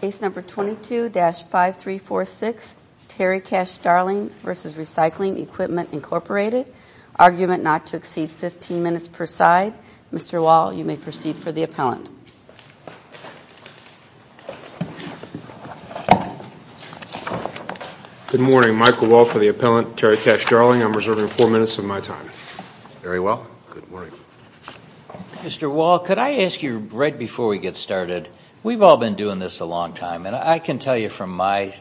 Case number 22-5346, Terry Cash-Darling v. Recycling Equipment, Inc., argument not to exceed 15 minutes per side. Mr. Wall, you may proceed for the appellant. Good morning. Michael Wall for the appellant, Terry Cash-Darling. I'm reserving four minutes of my time. Very well. Good morning. Mr. Wall, could I ask you, right before we get started, we've all been doing this a long time, and I can tell you from my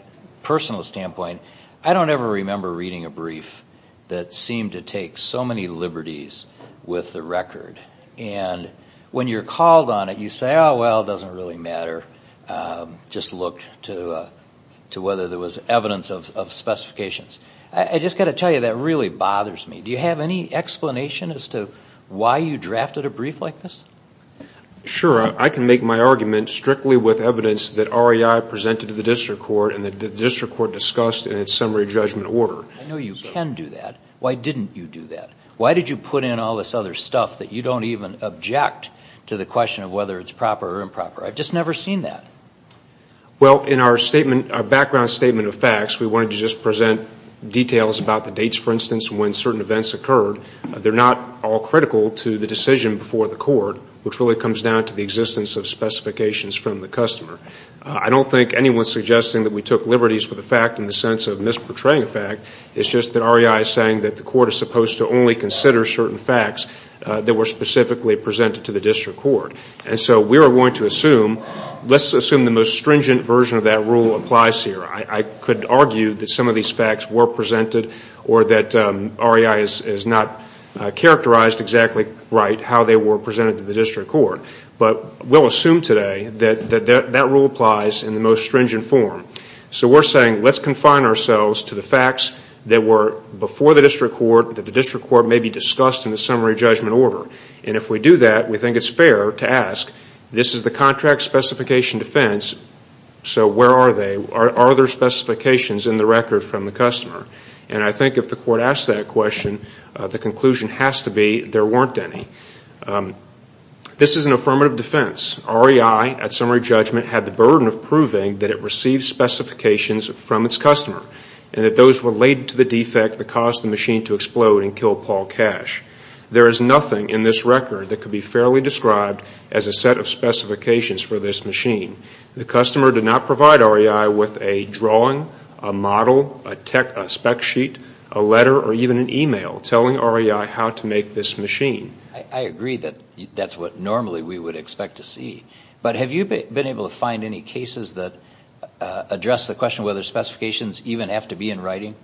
personal standpoint, I don't ever remember reading a brief that seemed to take so many liberties with the record. And when you're called on it, you say, oh, well, it doesn't really matter. Just look to whether there was evidence of specifications. I just got to tell you, that really bothers me. Do you have any explanation as to why you drafted a brief like this? Sure. I can make my argument strictly with evidence that REI presented to the district court and the district court discussed in its summary judgment order. I know you can do that. Why didn't you do that? Why did you put in all this other stuff that you don't even object to the question of whether it's proper or improper? I've just never seen that. Well, in our statement, our background statement of facts, we wanted to just present details about the dates, for instance, when certain events occurred. They're not all critical to the decision before the court, which really comes down to the existence of specifications from the customer. I don't think anyone's suggesting that we took liberties with the fact in the sense of misportraying a fact. It's just that REI is saying that the court is supposed to only consider certain facts that were specifically presented to the district court. And so we are going to assume, let's assume the most stringent version of that rule applies here. I could argue that some of these facts were presented or that REI has not characterized exactly right how they were presented to the district court. But we'll assume today that that rule applies in the most stringent form. So we're saying let's confine ourselves to the facts that were before the district court, that the district court may be discussed in the summary judgment order. And if we do that, we think it's fair to ask, this is the contract specification defense, so where are they? Are there specifications in the record from the customer? And I think if the court asks that question, the conclusion has to be there weren't any. This is an affirmative defense. REI, at summary judgment, had the burden of proving that it received specifications from its customer and that those were related to the defect that caused the machine to explode and kill Paul Cash. There is nothing in this record that could be fairly described as a set of specifications for this machine. The customer did not provide REI with a drawing, a model, a spec sheet, a letter, or even an e-mail telling REI how to make this machine. I agree that that's what normally we would expect to see. But have you been able to find any cases that address the question whether specifications even have to be in writing?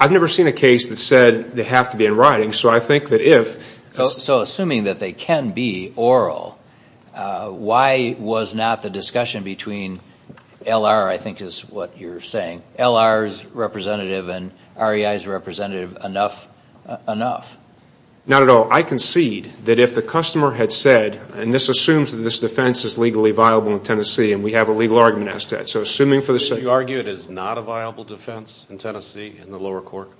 I've never seen a case that said they have to be in writing. So assuming that they can be oral, why was not the discussion between LR, I think is what you're saying, LR's representative and REI's representative enough? Not at all. I concede that if the customer had said, and this assumes that this defense is legally viable in Tennessee and we have a legal argument as to that. Would you argue it is not a viable defense in Tennessee in the lower court?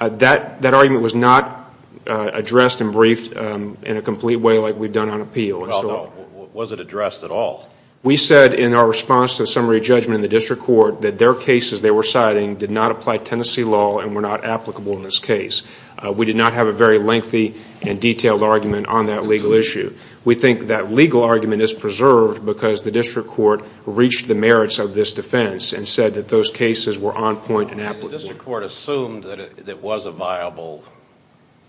That argument was not addressed and briefed in a complete way like we've done on appeal. Was it addressed at all? We said in our response to a summary judgment in the district court that their cases they were citing did not apply Tennessee law and were not applicable in this case. We did not have a very lengthy and detailed argument on that legal issue. We think that legal argument is preserved because the district court reached the merits of this defense and said that those cases were on point and applicable. The district court assumed that it was a viable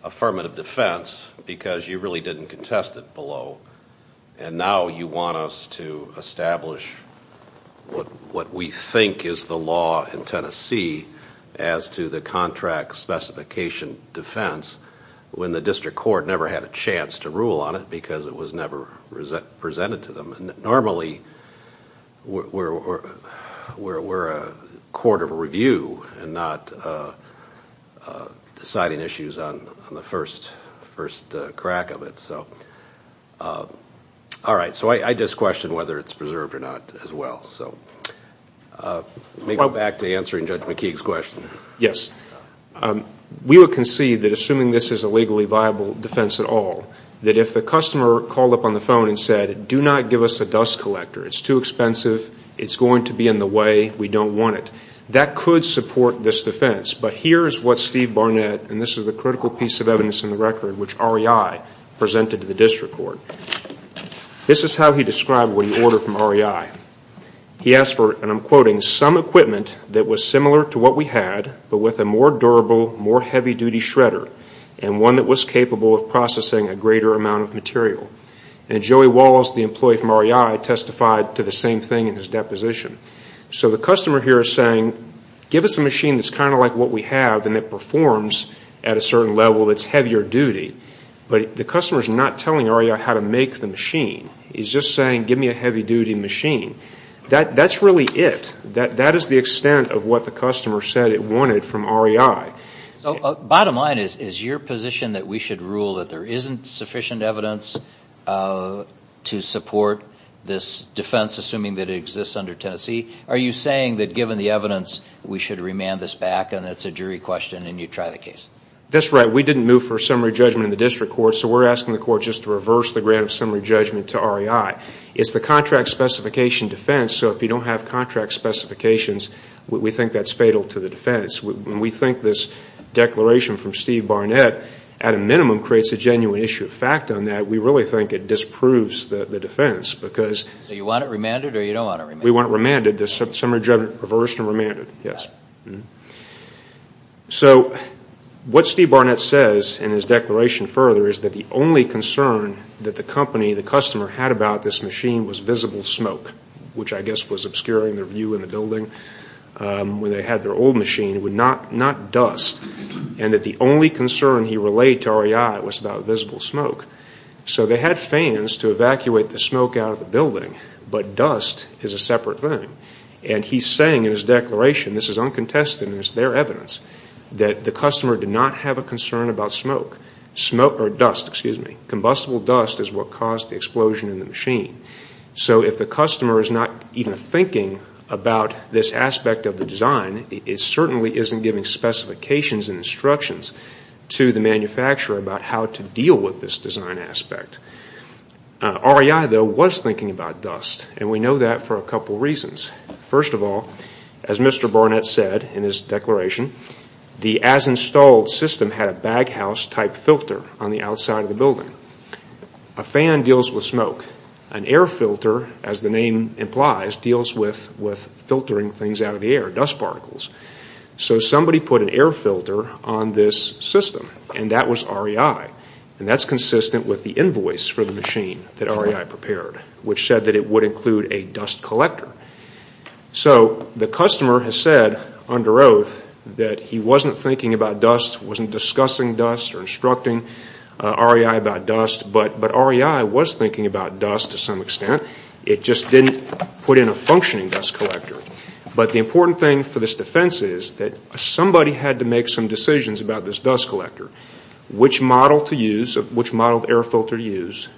affirmative defense because you really didn't contest it below. And now you want us to establish what we think is the law in Tennessee as to the contract specification defense when the district court never had a chance to rule on it because it was never presented to them. Normally we're a court of review and not deciding issues on the first crack of it. So I just question whether it's preserved or not as well. Back to answering Judge McKeague's question. Yes. We would concede that assuming this is a legally viable defense at all, that if the customer called up on the phone and said, do not give us a dust collector, it's too expensive, it's going to be in the way, we don't want it. That could support this defense. But here is what Steve Barnett, and this is a critical piece of evidence in the record, which REI presented to the district court. This is how he described what he ordered from REI. He asked for, and I'm quoting, some equipment that was similar to what we had but with a more durable, more heavy-duty shredder, and one that was capable of processing a greater amount of material. And Joey Walls, the employee from REI, testified to the same thing in his deposition. So the customer here is saying, give us a machine that's kind of like what we have and that performs at a certain level that's heavier duty. He's just saying, give me a heavy-duty machine. That's really it. That is the extent of what the customer said it wanted from REI. Bottom line is, is your position that we should rule that there isn't sufficient evidence to support this defense, assuming that it exists under Tennessee? Are you saying that given the evidence, we should remand this back, and it's a jury question and you try the case? That's right. We didn't move for a summary judgment in the district court, so we're asking the court just to reverse the grant of summary judgment to REI. It's the contract specification defense, so if you don't have contract specifications, we think that's fatal to the defense. We think this declaration from Steve Barnett, at a minimum, creates a genuine issue of fact on that. We really think it disproves the defense because... So you want it remanded or you don't want it remanded? We want it remanded. The summary judgment reversed and remanded, yes. So what Steve Barnett says in his declaration further is that the only concern that the company, the customer, had about this machine was visible smoke, which I guess was obscuring their view in the building. When they had their old machine, it was not dust, and that the only concern he relayed to REI was about visible smoke. So they had fans to evacuate the smoke out of the building, but dust is a separate thing. And he's saying in his declaration, this is uncontested and it's their evidence, that the customer did not have a concern about smoke or dust, excuse me. Combustible dust is what caused the explosion in the machine. So if the customer is not even thinking about this aspect of the design, it certainly isn't giving specifications and instructions to the manufacturer about how to deal with this design aspect. REI, though, was thinking about dust, and we know that for a couple reasons. First of all, as Mr. Barnett said in his declaration, the as-installed system had a baghouse-type filter on the outside of the building. A fan deals with smoke. An air filter, as the name implies, deals with filtering things out of the air, dust particles. So somebody put an air filter on this system, and that was REI. And that's consistent with the invoice for the machine that REI prepared, which said that it would include a dust collector. So the customer has said under oath that he wasn't thinking about dust, wasn't discussing dust or instructing REI about dust, but REI was thinking about dust to some extent. It just didn't put in a functioning dust collector. But the important thing for this defense is that somebody had to make some decisions about this dust collector. Which model to use, which model air filter to use,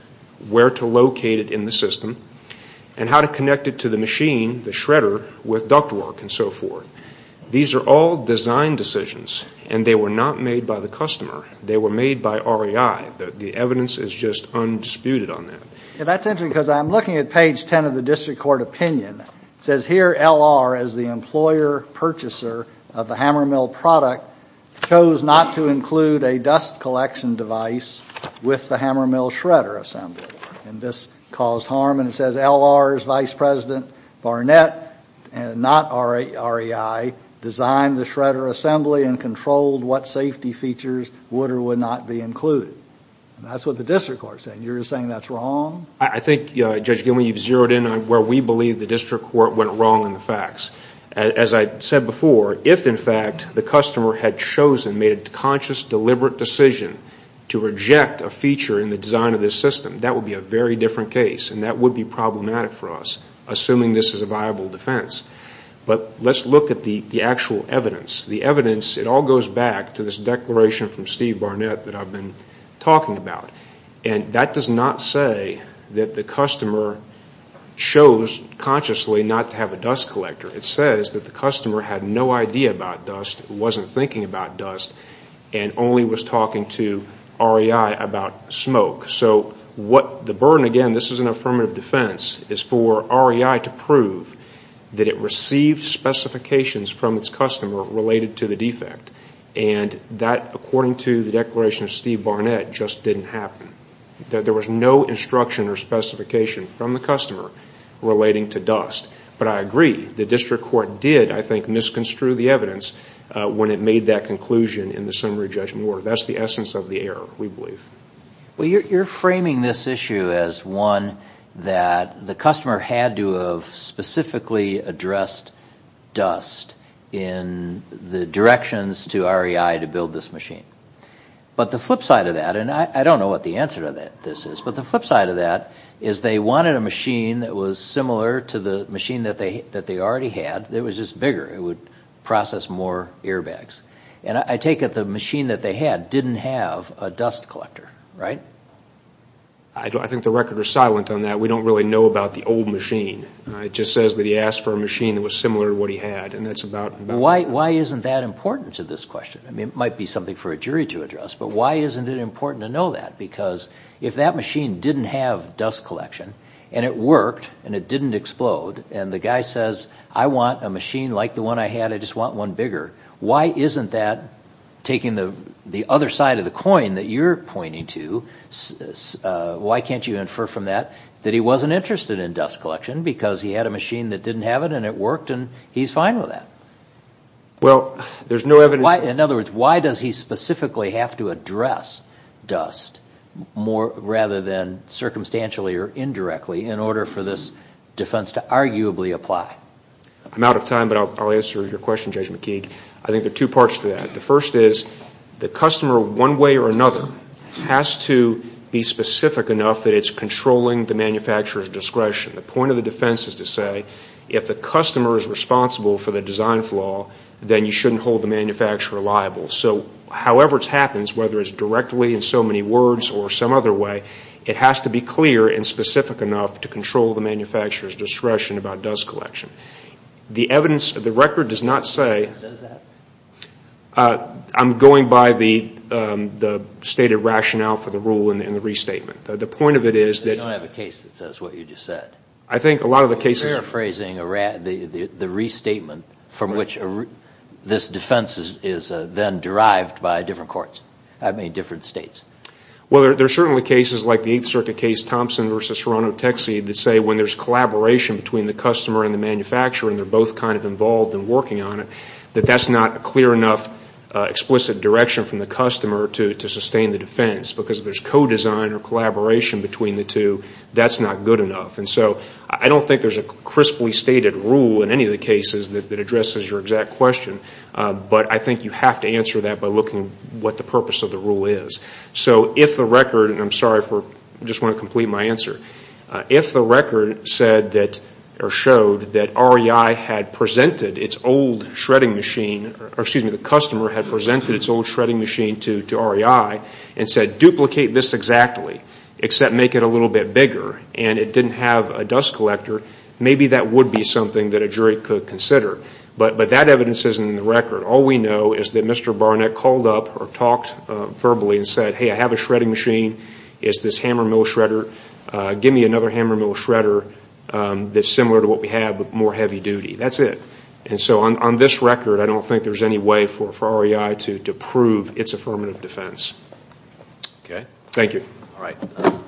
where to locate it in the system, and how to connect it to the machine, the shredder, with ductwork and so forth. These are all design decisions, and they were not made by the customer. They were made by REI. The evidence is just undisputed on that. That's interesting because I'm looking at page 10 of the district court opinion. It says here L.R. as the employer purchaser of the hammer mill product chose not to include a dust collection device with the hammer mill shredder assembly. And this caused harm. And it says L.R.'s vice president Barnett, not REI, designed the shredder assembly and controlled what safety features would or would not be included. And that's what the district court is saying. You're saying that's wrong? I think, Judge Gilman, you've zeroed in on where we believe the district court went wrong in the facts. As I said before, if, in fact, the customer had chosen, made a conscious, deliberate decision, to reject a feature in the design of this system, that would be a very different case, and that would be problematic for us, assuming this is a viable defense. But let's look at the actual evidence. The evidence, it all goes back to this declaration from Steve Barnett that I've been talking about. And that does not say that the customer chose consciously not to have a dust collector. It says that the customer had no idea about dust, wasn't thinking about dust, and only was talking to REI about smoke. So what the burden, again, this is an affirmative defense, is for REI to prove that it received specifications from its customer related to the defect. And that, according to the declaration of Steve Barnett, just didn't happen. There was no instruction or specification from the customer relating to dust. But I agree, the district court did, I think, misconstrue the evidence when it made that conclusion in the summary judgment order. That's the essence of the error, we believe. Well, you're framing this issue as one that the customer had to have specifically addressed dust in the directions to REI to build this machine. But the flip side of that, and I don't know what the answer to this is, but the flip side of that is they wanted a machine that was similar to the machine that they already had, it was just bigger, it would process more airbags. And I take it the machine that they had didn't have a dust collector, right? I think the record is silent on that. We don't really know about the old machine. It just says that he asked for a machine that was similar to what he had, and that's about it. Why isn't that important to this question? I mean, it might be something for a jury to address, but why isn't it important to know that? Because if that machine didn't have dust collection, and it worked, and it didn't explode, and the guy says, I want a machine like the one I had, I just want one bigger, why isn't that taking the other side of the coin that you're pointing to, why can't you infer from that that he wasn't interested in dust collection because he had a machine that didn't have it, and it worked, and he's fine with that? Well, there's no evidence. In other words, why does he specifically have to address dust rather than circumstantially or indirectly in order for this defense to arguably apply? I'm out of time, but I'll answer your question, Judge McKeague. I think there are two parts to that. The first is the customer, one way or another, has to be specific enough that it's controlling the manufacturer's discretion. The point of the defense is to say if the customer is responsible for the design flaw, then you shouldn't hold the manufacturer liable. So however it happens, whether it's directly in so many words or some other way, it has to be clear and specific enough to control the manufacturer's discretion about dust collection. The record does not say I'm going by the stated rationale for the rule in the restatement. The point of it is that... You don't have a case that says what you just said. I think a lot of the cases... You're paraphrasing the restatement from which this defense is then derived by different courts, I mean different states. Well, there are certainly cases like the Eighth Circuit case, Thompson v. Toronto Tech Seed, that say when there's collaboration between the customer and the manufacturer and they're both kind of involved in working on it, that that's not a clear enough explicit direction from the customer to sustain the defense. Because if there's co-design or collaboration between the two, that's not good enough. And so I don't think there's a crisply stated rule in any of the cases that addresses your exact question. But I think you have to answer that by looking at what the purpose of the rule is. So if the record... And I'm sorry for... I just want to complete my answer. If the record said that or showed that REI had presented its old shredding machine, or excuse me, the customer had presented its old shredding machine to REI and said, duplicate this exactly, except make it a little bit bigger, and it didn't have a dust collector, maybe that would be something that a jury could consider. But that evidence isn't in the record. All we know is that Mr. Barnett called up or talked verbally and said, hey, I have a shredding machine, it's this hammer mill shredder, give me another hammer mill shredder that's similar to what we have but more heavy duty. That's it. And so on this record, I don't think there's any way for REI to prove its affirmative defense. Okay. Thank you. All right.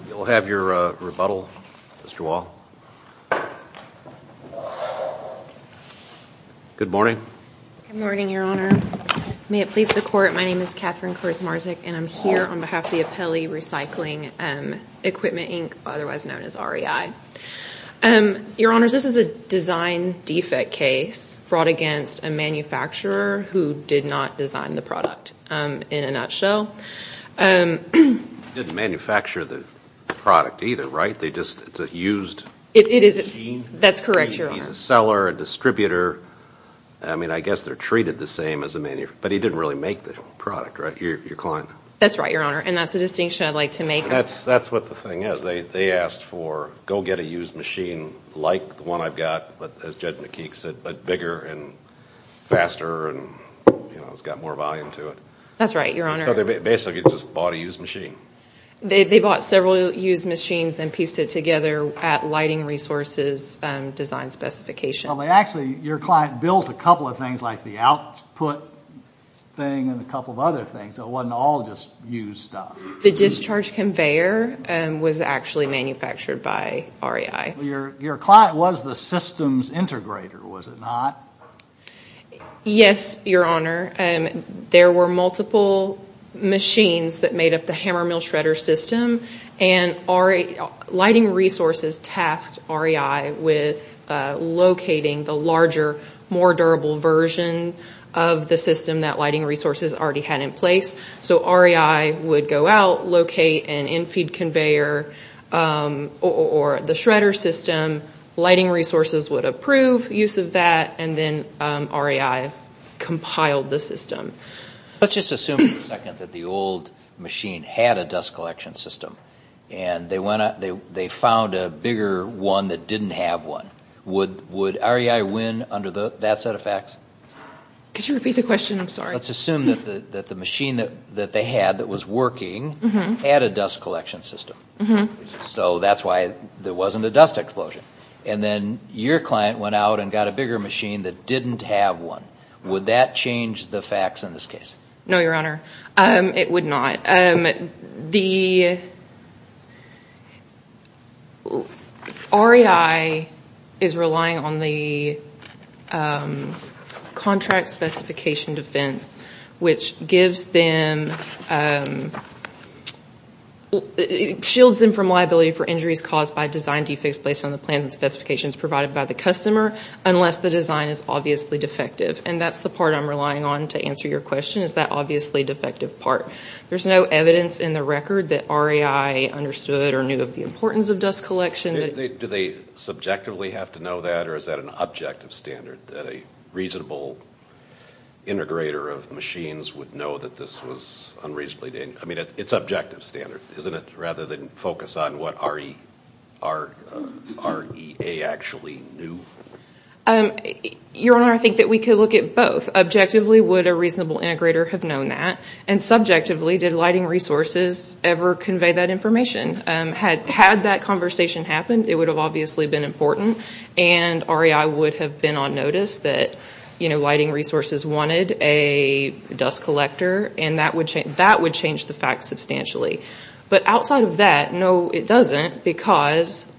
We'll have your rebuttal, Mr. Wall. Good morning. Good morning, Your Honor. May it please the Court, my name is Catherine Kurzmarczuk, and I'm here on behalf of the Apelli Recycling Equipment, Inc., otherwise known as REI. Your Honors, this is a design defect case brought against a manufacturer who did not design the product, in a nutshell. They didn't manufacture the product either, right? It's a used machine? That's correct, Your Honor. It's a seller, a distributor, I mean, I guess they're treated the same as a manufacturer, but he didn't really make the product, right, your client? That's right, Your Honor, and that's the distinction I'd like to make. That's what the thing is. They asked for go get a used machine like the one I've got, as Judge McKeek said, but bigger and faster and, you know, it's got more volume to it. That's right, Your Honor. So they basically just bought a used machine. They bought several used machines and pieced it together at lighting resources design specifications. Actually, your client built a couple of things like the output thing and a couple of other things. It wasn't all just used stuff. The discharge conveyor was actually manufactured by REI. Your client was the systems integrator, was it not? Yes, Your Honor. There were multiple machines that made up the hammer mill shredder system, and lighting resources tasked REI with locating the larger, more durable version of the system that lighting resources already had in place. So REI would go out, locate an infeed conveyor or the shredder system. Lighting resources would approve use of that, and then REI compiled the system. Let's just assume for a second that the old machine had a dust collection system, and they found a bigger one that didn't have one. Would REI win under that set of facts? Could you repeat the question? I'm sorry. Let's assume that the machine that they had that was working had a dust collection system. So that's why there wasn't a dust explosion. And then your client went out and got a bigger machine that didn't have one. Would that change the facts in this case? No, Your Honor, it would not. The REI is relying on the contract specification defense, which gives them, shields them from liability for injuries caused by design defects based on the plans and specifications provided by the customer, unless the design is obviously defective. And that's the part I'm relying on to answer your question, is that obviously defective part. There's no evidence in the record that REI understood or knew of the importance of dust collection. Do they subjectively have to know that, or is that an objective standard, that a reasonable integrator of machines would know that this was unreasonably dangerous? I mean, it's objective standard, isn't it, rather than focus on what REA actually knew? Your Honor, I think that we could look at both. Objectively, would a reasonable integrator have known that? And subjectively, did lighting resources ever convey that information? Had that conversation happened, it would have obviously been important, and REI would have been on notice that lighting resources wanted a dust collector, and that would change the facts substantially. But outside of that, no, it doesn't, because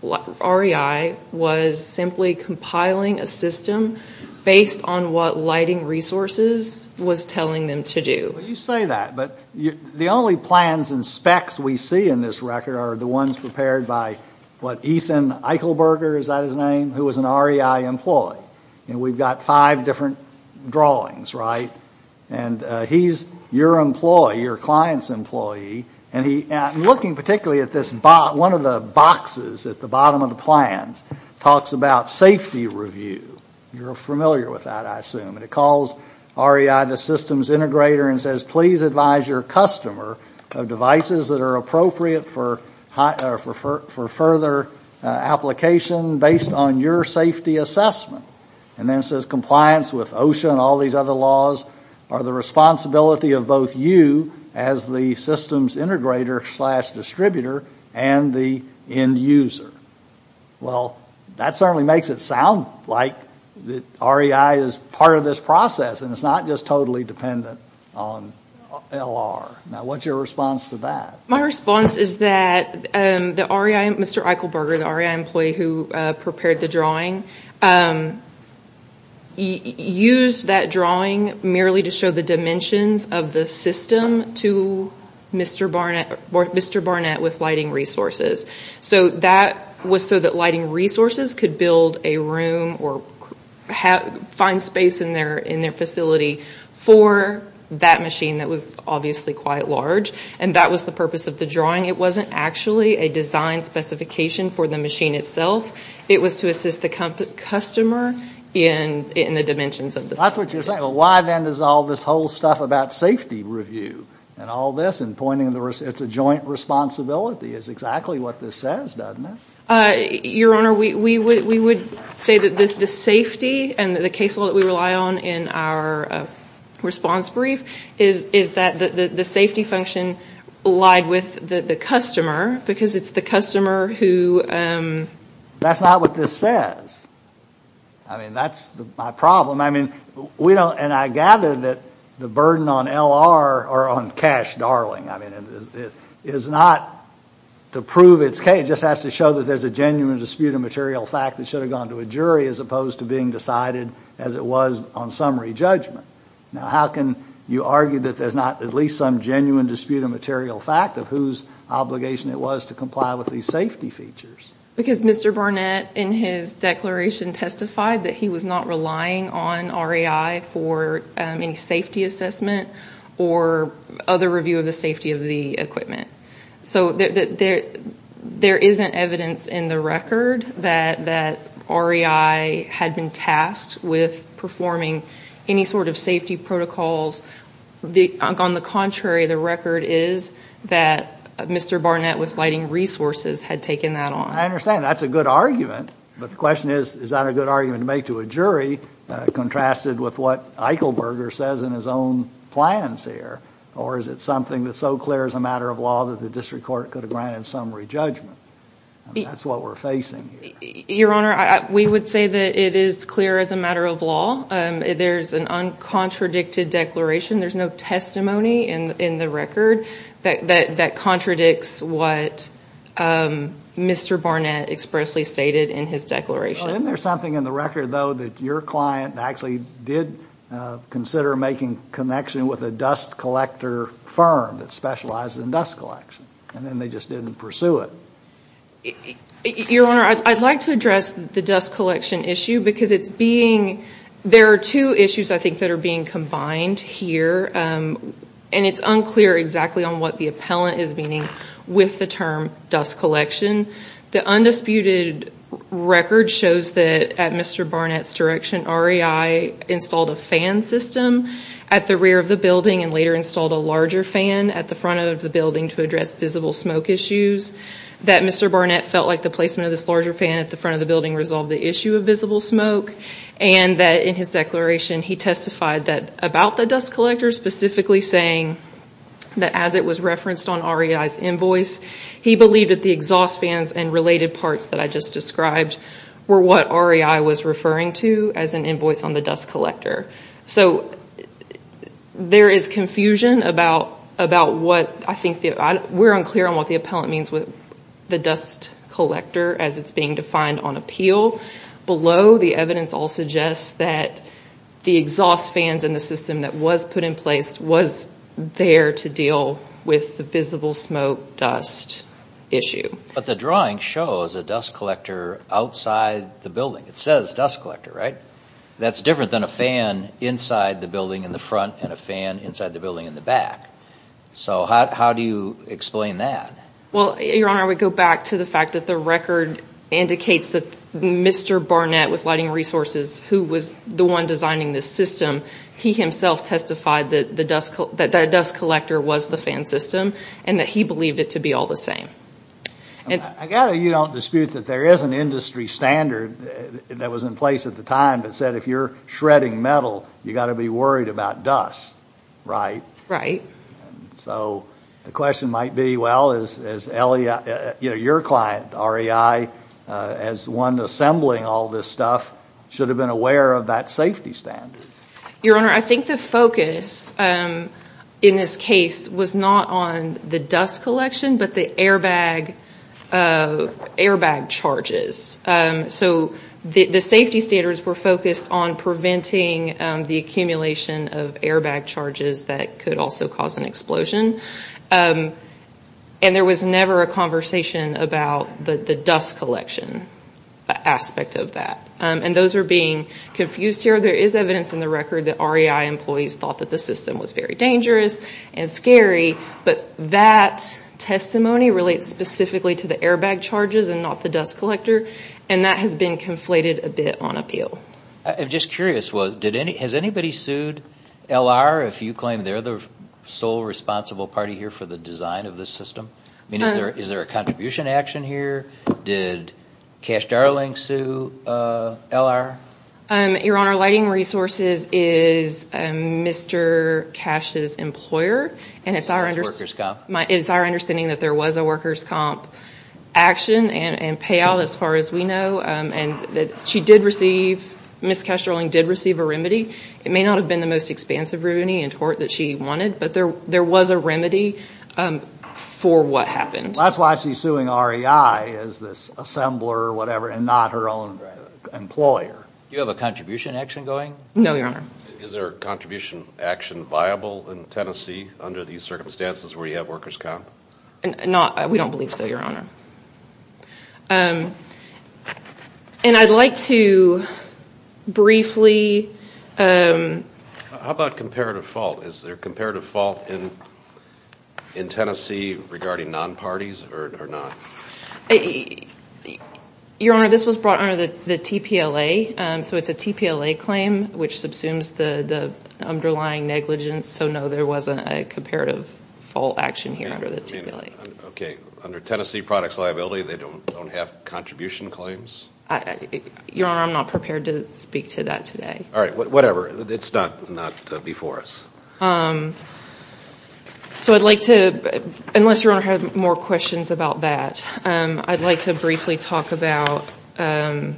REI was simply compiling a system based on what lighting resources was telling them to do. You say that, but the only plans and specs we see in this record are the ones prepared by, what, Ethan Eichelberger, is that his name, who was an REI employee. And we've got five different drawings, right? And he's your employee, your client's employee, and looking particularly at this box, one of the boxes at the bottom of the plans talks about safety review. You're familiar with that, I assume. And it calls REI the systems integrator and says, please advise your customer of devices that are appropriate for further application based on your safety assessment. And then it says compliance with OSHA and all these other laws are the responsibility of both you as the systems integrator slash distributor and the end user. Well, that certainly makes it sound like REI is part of this process, and it's not just totally dependent on LR. Now, what's your response to that? My response is that the REI, Mr. Eichelberger, the REI employee who prepared the drawing, used that drawing merely to show the dimensions of the system to Mr. Barnett with lighting resources. So that was so that lighting resources could build a room or find space in their facility for that machine that was obviously quite large. And that was the purpose of the drawing. It wasn't actually a design specification for the machine itself. It was to assist the customer in the dimensions of the system. That's what you're saying. Well, why then does all this whole stuff about safety review and all this and pointing to it's a joint responsibility is exactly what this says, doesn't it? Your Honor, we would say that the safety and the case law that we rely on in our response brief is that the safety function allied with the customer because it's the customer who... That's not what this says. I mean, that's my problem. And I gather that the burden on L.R. or on Cash Darling is not to prove it's case. It just has to show that there's a genuine dispute of material fact that should have gone to a jury as opposed to being decided as it was on summary judgment. Now, how can you argue that there's not at least some genuine dispute of material fact of whose obligation it was to comply with these safety features? Because Mr. Barnett in his declaration testified that he was not relying on REI for any safety assessment or other review of the safety of the equipment. So there isn't evidence in the record that REI had been tasked with performing any sort of safety protocols. On the contrary, the record is that Mr. Barnett with lighting resources had taken that on. I understand. That's a good argument. But the question is, is that a good argument to make to a jury contrasted with what Eichelberger says in his own plans here? Or is it something that's so clear as a matter of law that the district court could have granted summary judgment? That's what we're facing here. Your Honor, we would say that it is clear as a matter of law. There's an uncontradicted declaration. There's no testimony in the record that contradicts what Mr. Barnett expressly stated in his declaration. Isn't there something in the record, though, that your client actually did consider making connection with a dust collector firm that specialized in dust collection, and then they just didn't pursue it? Your Honor, I'd like to address the dust collection issue because it's being – there are two issues, I think, that are being combined here. And it's unclear exactly on what the appellant is meaning with the term dust collection. The undisputed record shows that at Mr. Barnett's direction, REI installed a fan system at the rear of the building and later installed a larger fan at the front of the building to address visible smoke issues. That Mr. Barnett felt like the placement of this larger fan at the front of the building resolved the issue of visible smoke. And that in his declaration, he testified about the dust collector, specifically saying that as it was referenced on REI's invoice, he believed that the exhaust fans and related parts that I just described were what REI was referring to as an invoice on the dust collector. So there is confusion about what – I think we're unclear on what the appellant means with the dust collector as it's being defined on appeal. Below, the evidence all suggests that the exhaust fans in the system that was put in place was there to deal with the visible smoke dust issue. But the drawing shows a dust collector outside the building. It says dust collector, right? That's different than a fan inside the building in the front and a fan inside the building in the back. So how do you explain that? Well, Your Honor, we go back to the fact that the record indicates that Mr. Barnett with Lighting Resources, who was the one designing this system, he himself testified that the dust collector was the fan system and that he believed it to be all the same. I gather you don't dispute that there is an industry standard that was in place at the time that said if you're shredding metal, you've got to be worried about dust, right? Right. So the question might be, well, as your client, REI, as one assembling all this stuff, should have been aware of that safety standard. Your Honor, I think the focus in this case was not on the dust collection but the airbag charges. So the safety standards were focused on preventing the accumulation of airbag charges that could also cause an explosion. And there was never a conversation about the dust collection aspect of that. And those are being confused here. There is evidence in the record that REI employees thought that the system was very dangerous and scary, but that testimony relates specifically to the airbag charges and not the dust collector, and that has been conflated a bit on appeal. I'm just curious, has anybody sued L.R. if you claim they're the sole responsible party here for the design of this system? Is there a contribution action here? Did Cash Darling sue L.R.? Your Honor, Lighting Resources is Mr. Cash's employer, and it's our understanding that there was a workers' comp action and payout as far as we know. And she did receive, Ms. Cash Darling did receive a remedy. It may not have been the most expansive remedy and tort that she wanted, but there was a remedy for what happened. Well, that's why she's suing REI as this assembler or whatever and not her own employer. No, Your Honor. Is there a contribution action viable in Tennessee under these circumstances where you have workers' comp? We don't believe so, Your Honor. And I'd like to briefly... How about comparative fault? Is there comparative fault in Tennessee regarding non-parties or not? Your Honor, this was brought under the TPLA, so it's a TPLA claim which subsumes the underlying negligence. So, no, there wasn't a comparative fault action here under the TPLA. Okay. Under Tennessee products liability, they don't have contribution claims? Your Honor, I'm not prepared to speak to that today. All right. Whatever. It's not before us. So I'd like to, unless Your Honor had more questions about that, I'd like to briefly talk about the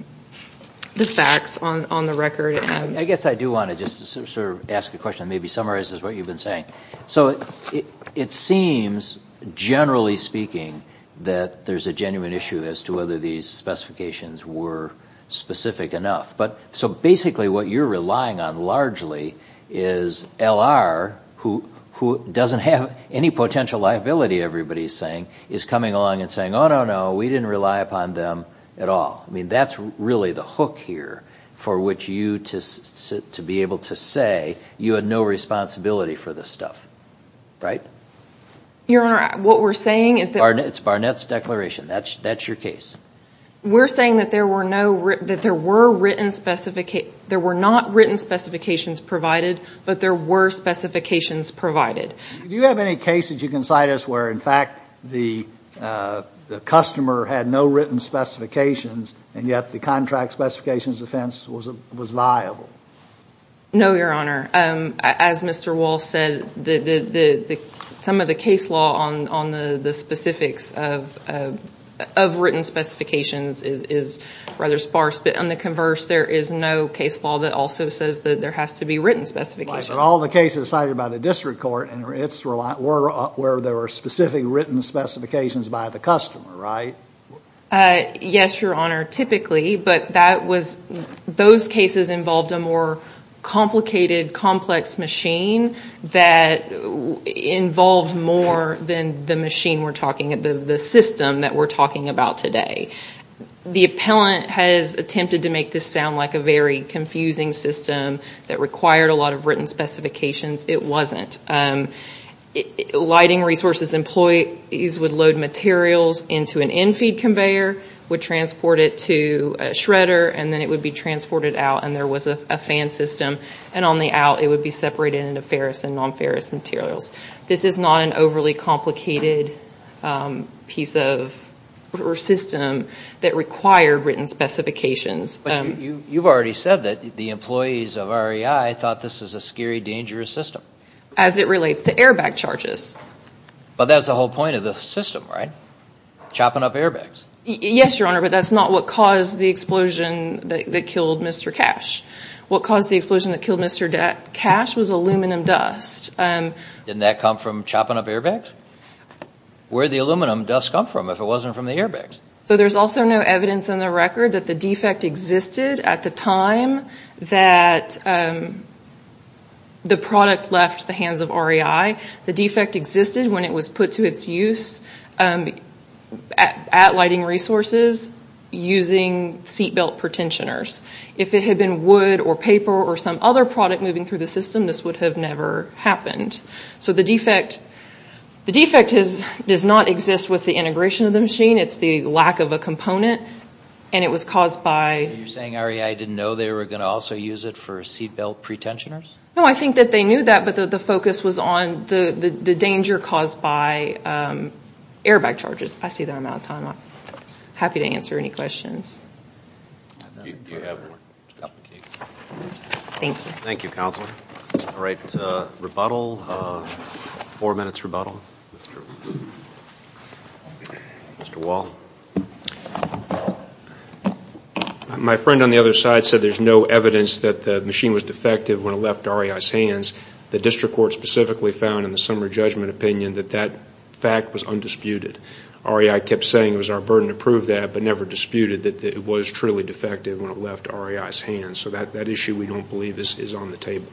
facts on the record. I guess I do want to just sort of ask a question that maybe summarizes what you've been saying. So it seems, generally speaking, that there's a genuine issue as to whether these specifications were specific enough. So basically what you're relying on largely is L.R., who doesn't have any potential liability, everybody's saying, is coming along and saying, oh, no, no, we didn't rely upon them at all. I mean, that's really the hook here for which you, to be able to say, you had no responsibility for this stuff. Right? Your Honor, what we're saying is that. It's Barnett's declaration. That's your case. We're saying that there were not written specifications provided, but there were specifications provided. Do you have any cases you can cite us where, in fact, the customer had no written specifications and yet the contract specifications defense was viable? No, Your Honor. As Mr. Walsh said, some of the case law on the specifics of written specifications is rather sparse. But on the converse, there is no case law that also says that there has to be written specifications. But all the cases cited by the district court, it's where there were specific written specifications by the customer, right? Yes, Your Honor, typically. But that was, those cases involved a more complicated, complex machine that involved more than the machine we're talking, the system that we're talking about today. The appellant has attempted to make this sound like a very confusing system that required a lot of written specifications. It wasn't. Lighting resources employees would load materials into an infeed conveyor, would transport it to a shredder, and then it would be transported out, and there was a fan system. And on the out, it would be separated into ferrous and non-ferrous materials. This is not an overly complicated piece of system that required written specifications. But you've already said that the employees of REI thought this was a scary, dangerous system. As it relates to airbag charges. But that's the whole point of the system, right? Chopping up airbags. Yes, Your Honor, but that's not what caused the explosion that killed Mr. Cash. What caused the explosion that killed Mr. Cash was aluminum dust. Didn't that come from chopping up airbags? Where did the aluminum dust come from if it wasn't from the airbags? So there's also no evidence on the record that the defect existed at the time that the product left the hands of REI. The defect existed when it was put to its use at lighting resources using seat belt pretensioners. If it had been wood or paper or some other product moving through the system, this would have never happened. So the defect does not exist with the integration of the machine. It's the lack of a component. And it was caused by... Are you saying REI didn't know they were going to also use it for seat belt pretensioners? No, I think that they knew that, but the focus was on the danger caused by airbag charges. I see that I'm out of time. I'm happy to answer any questions. Thank you, Counselor. All right, rebuttal. Four minutes rebuttal. Mr. Wall. My friend on the other side said there's no evidence that the machine was defective when it left REI's hands. The district court specifically found in the summary judgment opinion that that fact was undisputed. REI kept saying it was our burden to prove that but never disputed that it was truly defective when it left REI's hands. So that issue we don't believe is on the table.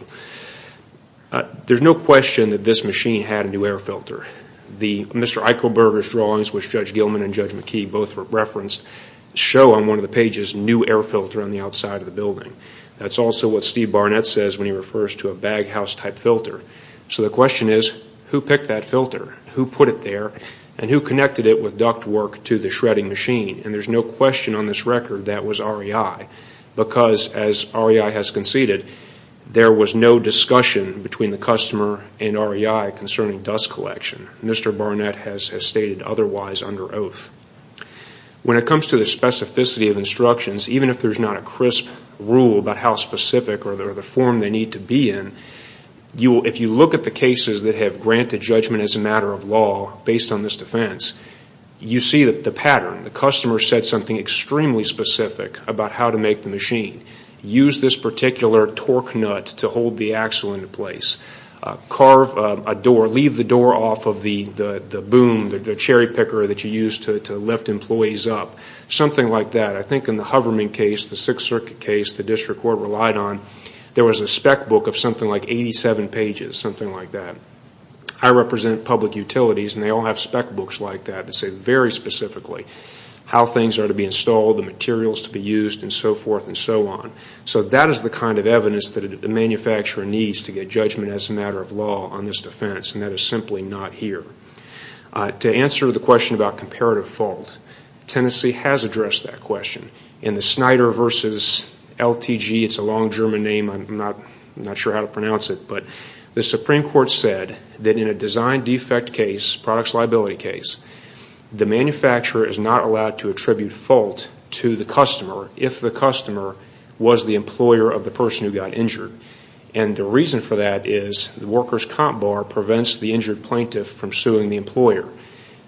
There's no question that this machine had a new air filter. Mr. Eichelberger's drawings, which Judge Gilman and Judge McKee both referenced, show on one of the pages new air filter on the outside of the building. That's also what Steve Barnett says when he refers to a baghouse type filter. So the question is, who picked that filter? Who put it there? And who connected it with duct work to the shredding machine? And there's no question on this record that was REI. Because as REI has conceded, there was no discussion between the customer and REI concerning dust collection. Mr. Barnett has stated otherwise under oath. When it comes to the specificity of instructions, even if there's not a crisp rule about how specific or the form they need to be in, if you look at the cases that have granted judgment as a matter of law based on this defense, you see the pattern. The customer said something extremely specific about how to make the machine. Use this particular torque nut to hold the axle into place. Carve a door. Leave the door off of the boom, the cherry picker that you use to lift employees up. Something like that. I think in the Hoverman case, the Sixth Circuit case, the district court relied on, there was a spec book of something like 87 pages, something like that. I represent public utilities and they all have spec books like that that say very specifically how things are to be installed, the materials to be used, and so forth and so on. So that is the kind of evidence that a manufacturer needs to get judgment as a matter of law on this defense, and that is simply not here. To answer the question about comparative fault, Tennessee has addressed that question. In the Snyder versus LTG, it's a long German name, I'm not sure how to pronounce it, but the Supreme Court said that in a design defect case, products liability case, the manufacturer is not allowed to attribute fault to the customer if the customer was the employer of the person who got injured. And the reason for that is the worker's comp bar prevents the injured plaintiff from suing the employer.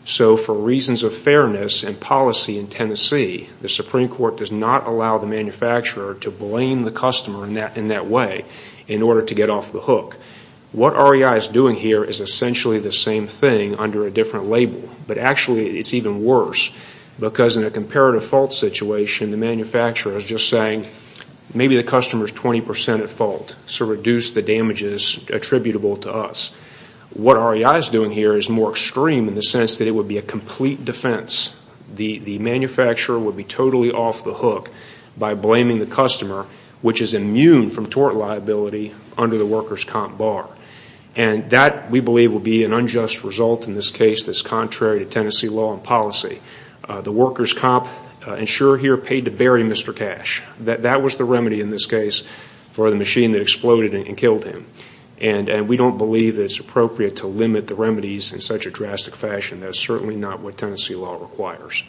So for reasons of fairness and policy in Tennessee, the Supreme Court does not allow the manufacturer to blame the customer in that way in order to get off the hook. What REI is doing here is essentially the same thing under a different label, but actually it's even worse because in a comparative fault situation, the manufacturer is just saying maybe the customer is 20% at fault, so reduce the damages attributable to us. What REI is doing here is more extreme in the sense that it would be a complete defense. The manufacturer would be totally off the hook by blaming the customer, which is immune from tort liability under the worker's comp bar. And that, we believe, would be an unjust result in this case that's contrary to Tennessee law and policy. The worker's comp insurer here paid to bury Mr. Cash. That was the remedy in this case for the machine that exploded and killed him. And we don't believe it's appropriate to limit the remedies in such a drastic fashion. That is certainly not what Tennessee law requires.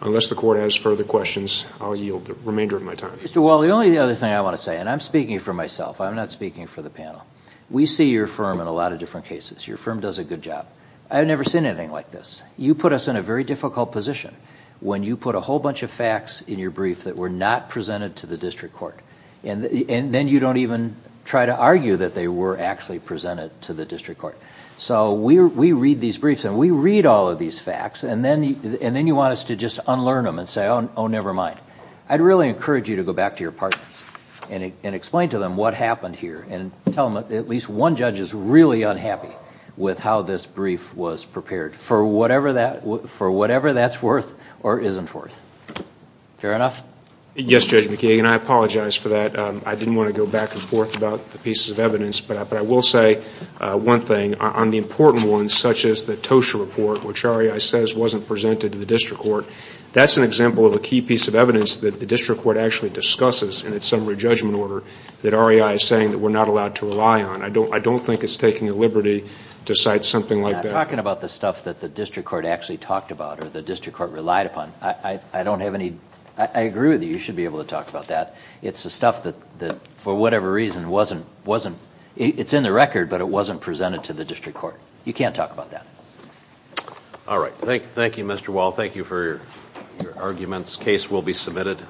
Unless the Court has further questions, I'll yield the remainder of my time. Mr. Wall, the only other thing I want to say, and I'm speaking for myself. I'm not speaking for the panel. We see your firm in a lot of different cases. Your firm does a good job. I've never seen anything like this. You put us in a very difficult position when you put a whole bunch of facts in your brief that were not presented to the district court, and then you don't even try to argue that they were actually presented to the district court. So we read these briefs and we read all of these facts, and then you want us to just unlearn them and say, oh, never mind. I'd really encourage you to go back to your partners and explain to them what happened here and tell them that at least one judge is really unhappy with how this brief was prepared, for whatever that's worth or isn't worth. Fair enough? Yes, Judge McKeegan, I apologize for that. I didn't want to go back and forth about the pieces of evidence, but I will say one thing. On the important ones, such as the Tosha report, which REI says wasn't presented to the district court, that's an example of a key piece of evidence that the district court actually discusses in its summary judgment order that REI is saying that we're not allowed to rely on. I don't think it's taking a liberty to cite something like that. I'm not talking about the stuff that the district court actually talked about or the district court relied upon. I don't have any ñ I agree with you. You should be able to talk about that. It's the stuff that, for whatever reason, wasn't ñ it's in the record, but it wasn't presented to the district court. You can't talk about that. All right. Thank you, Mr. Wall. Thank you for your arguments. Case will be submitted.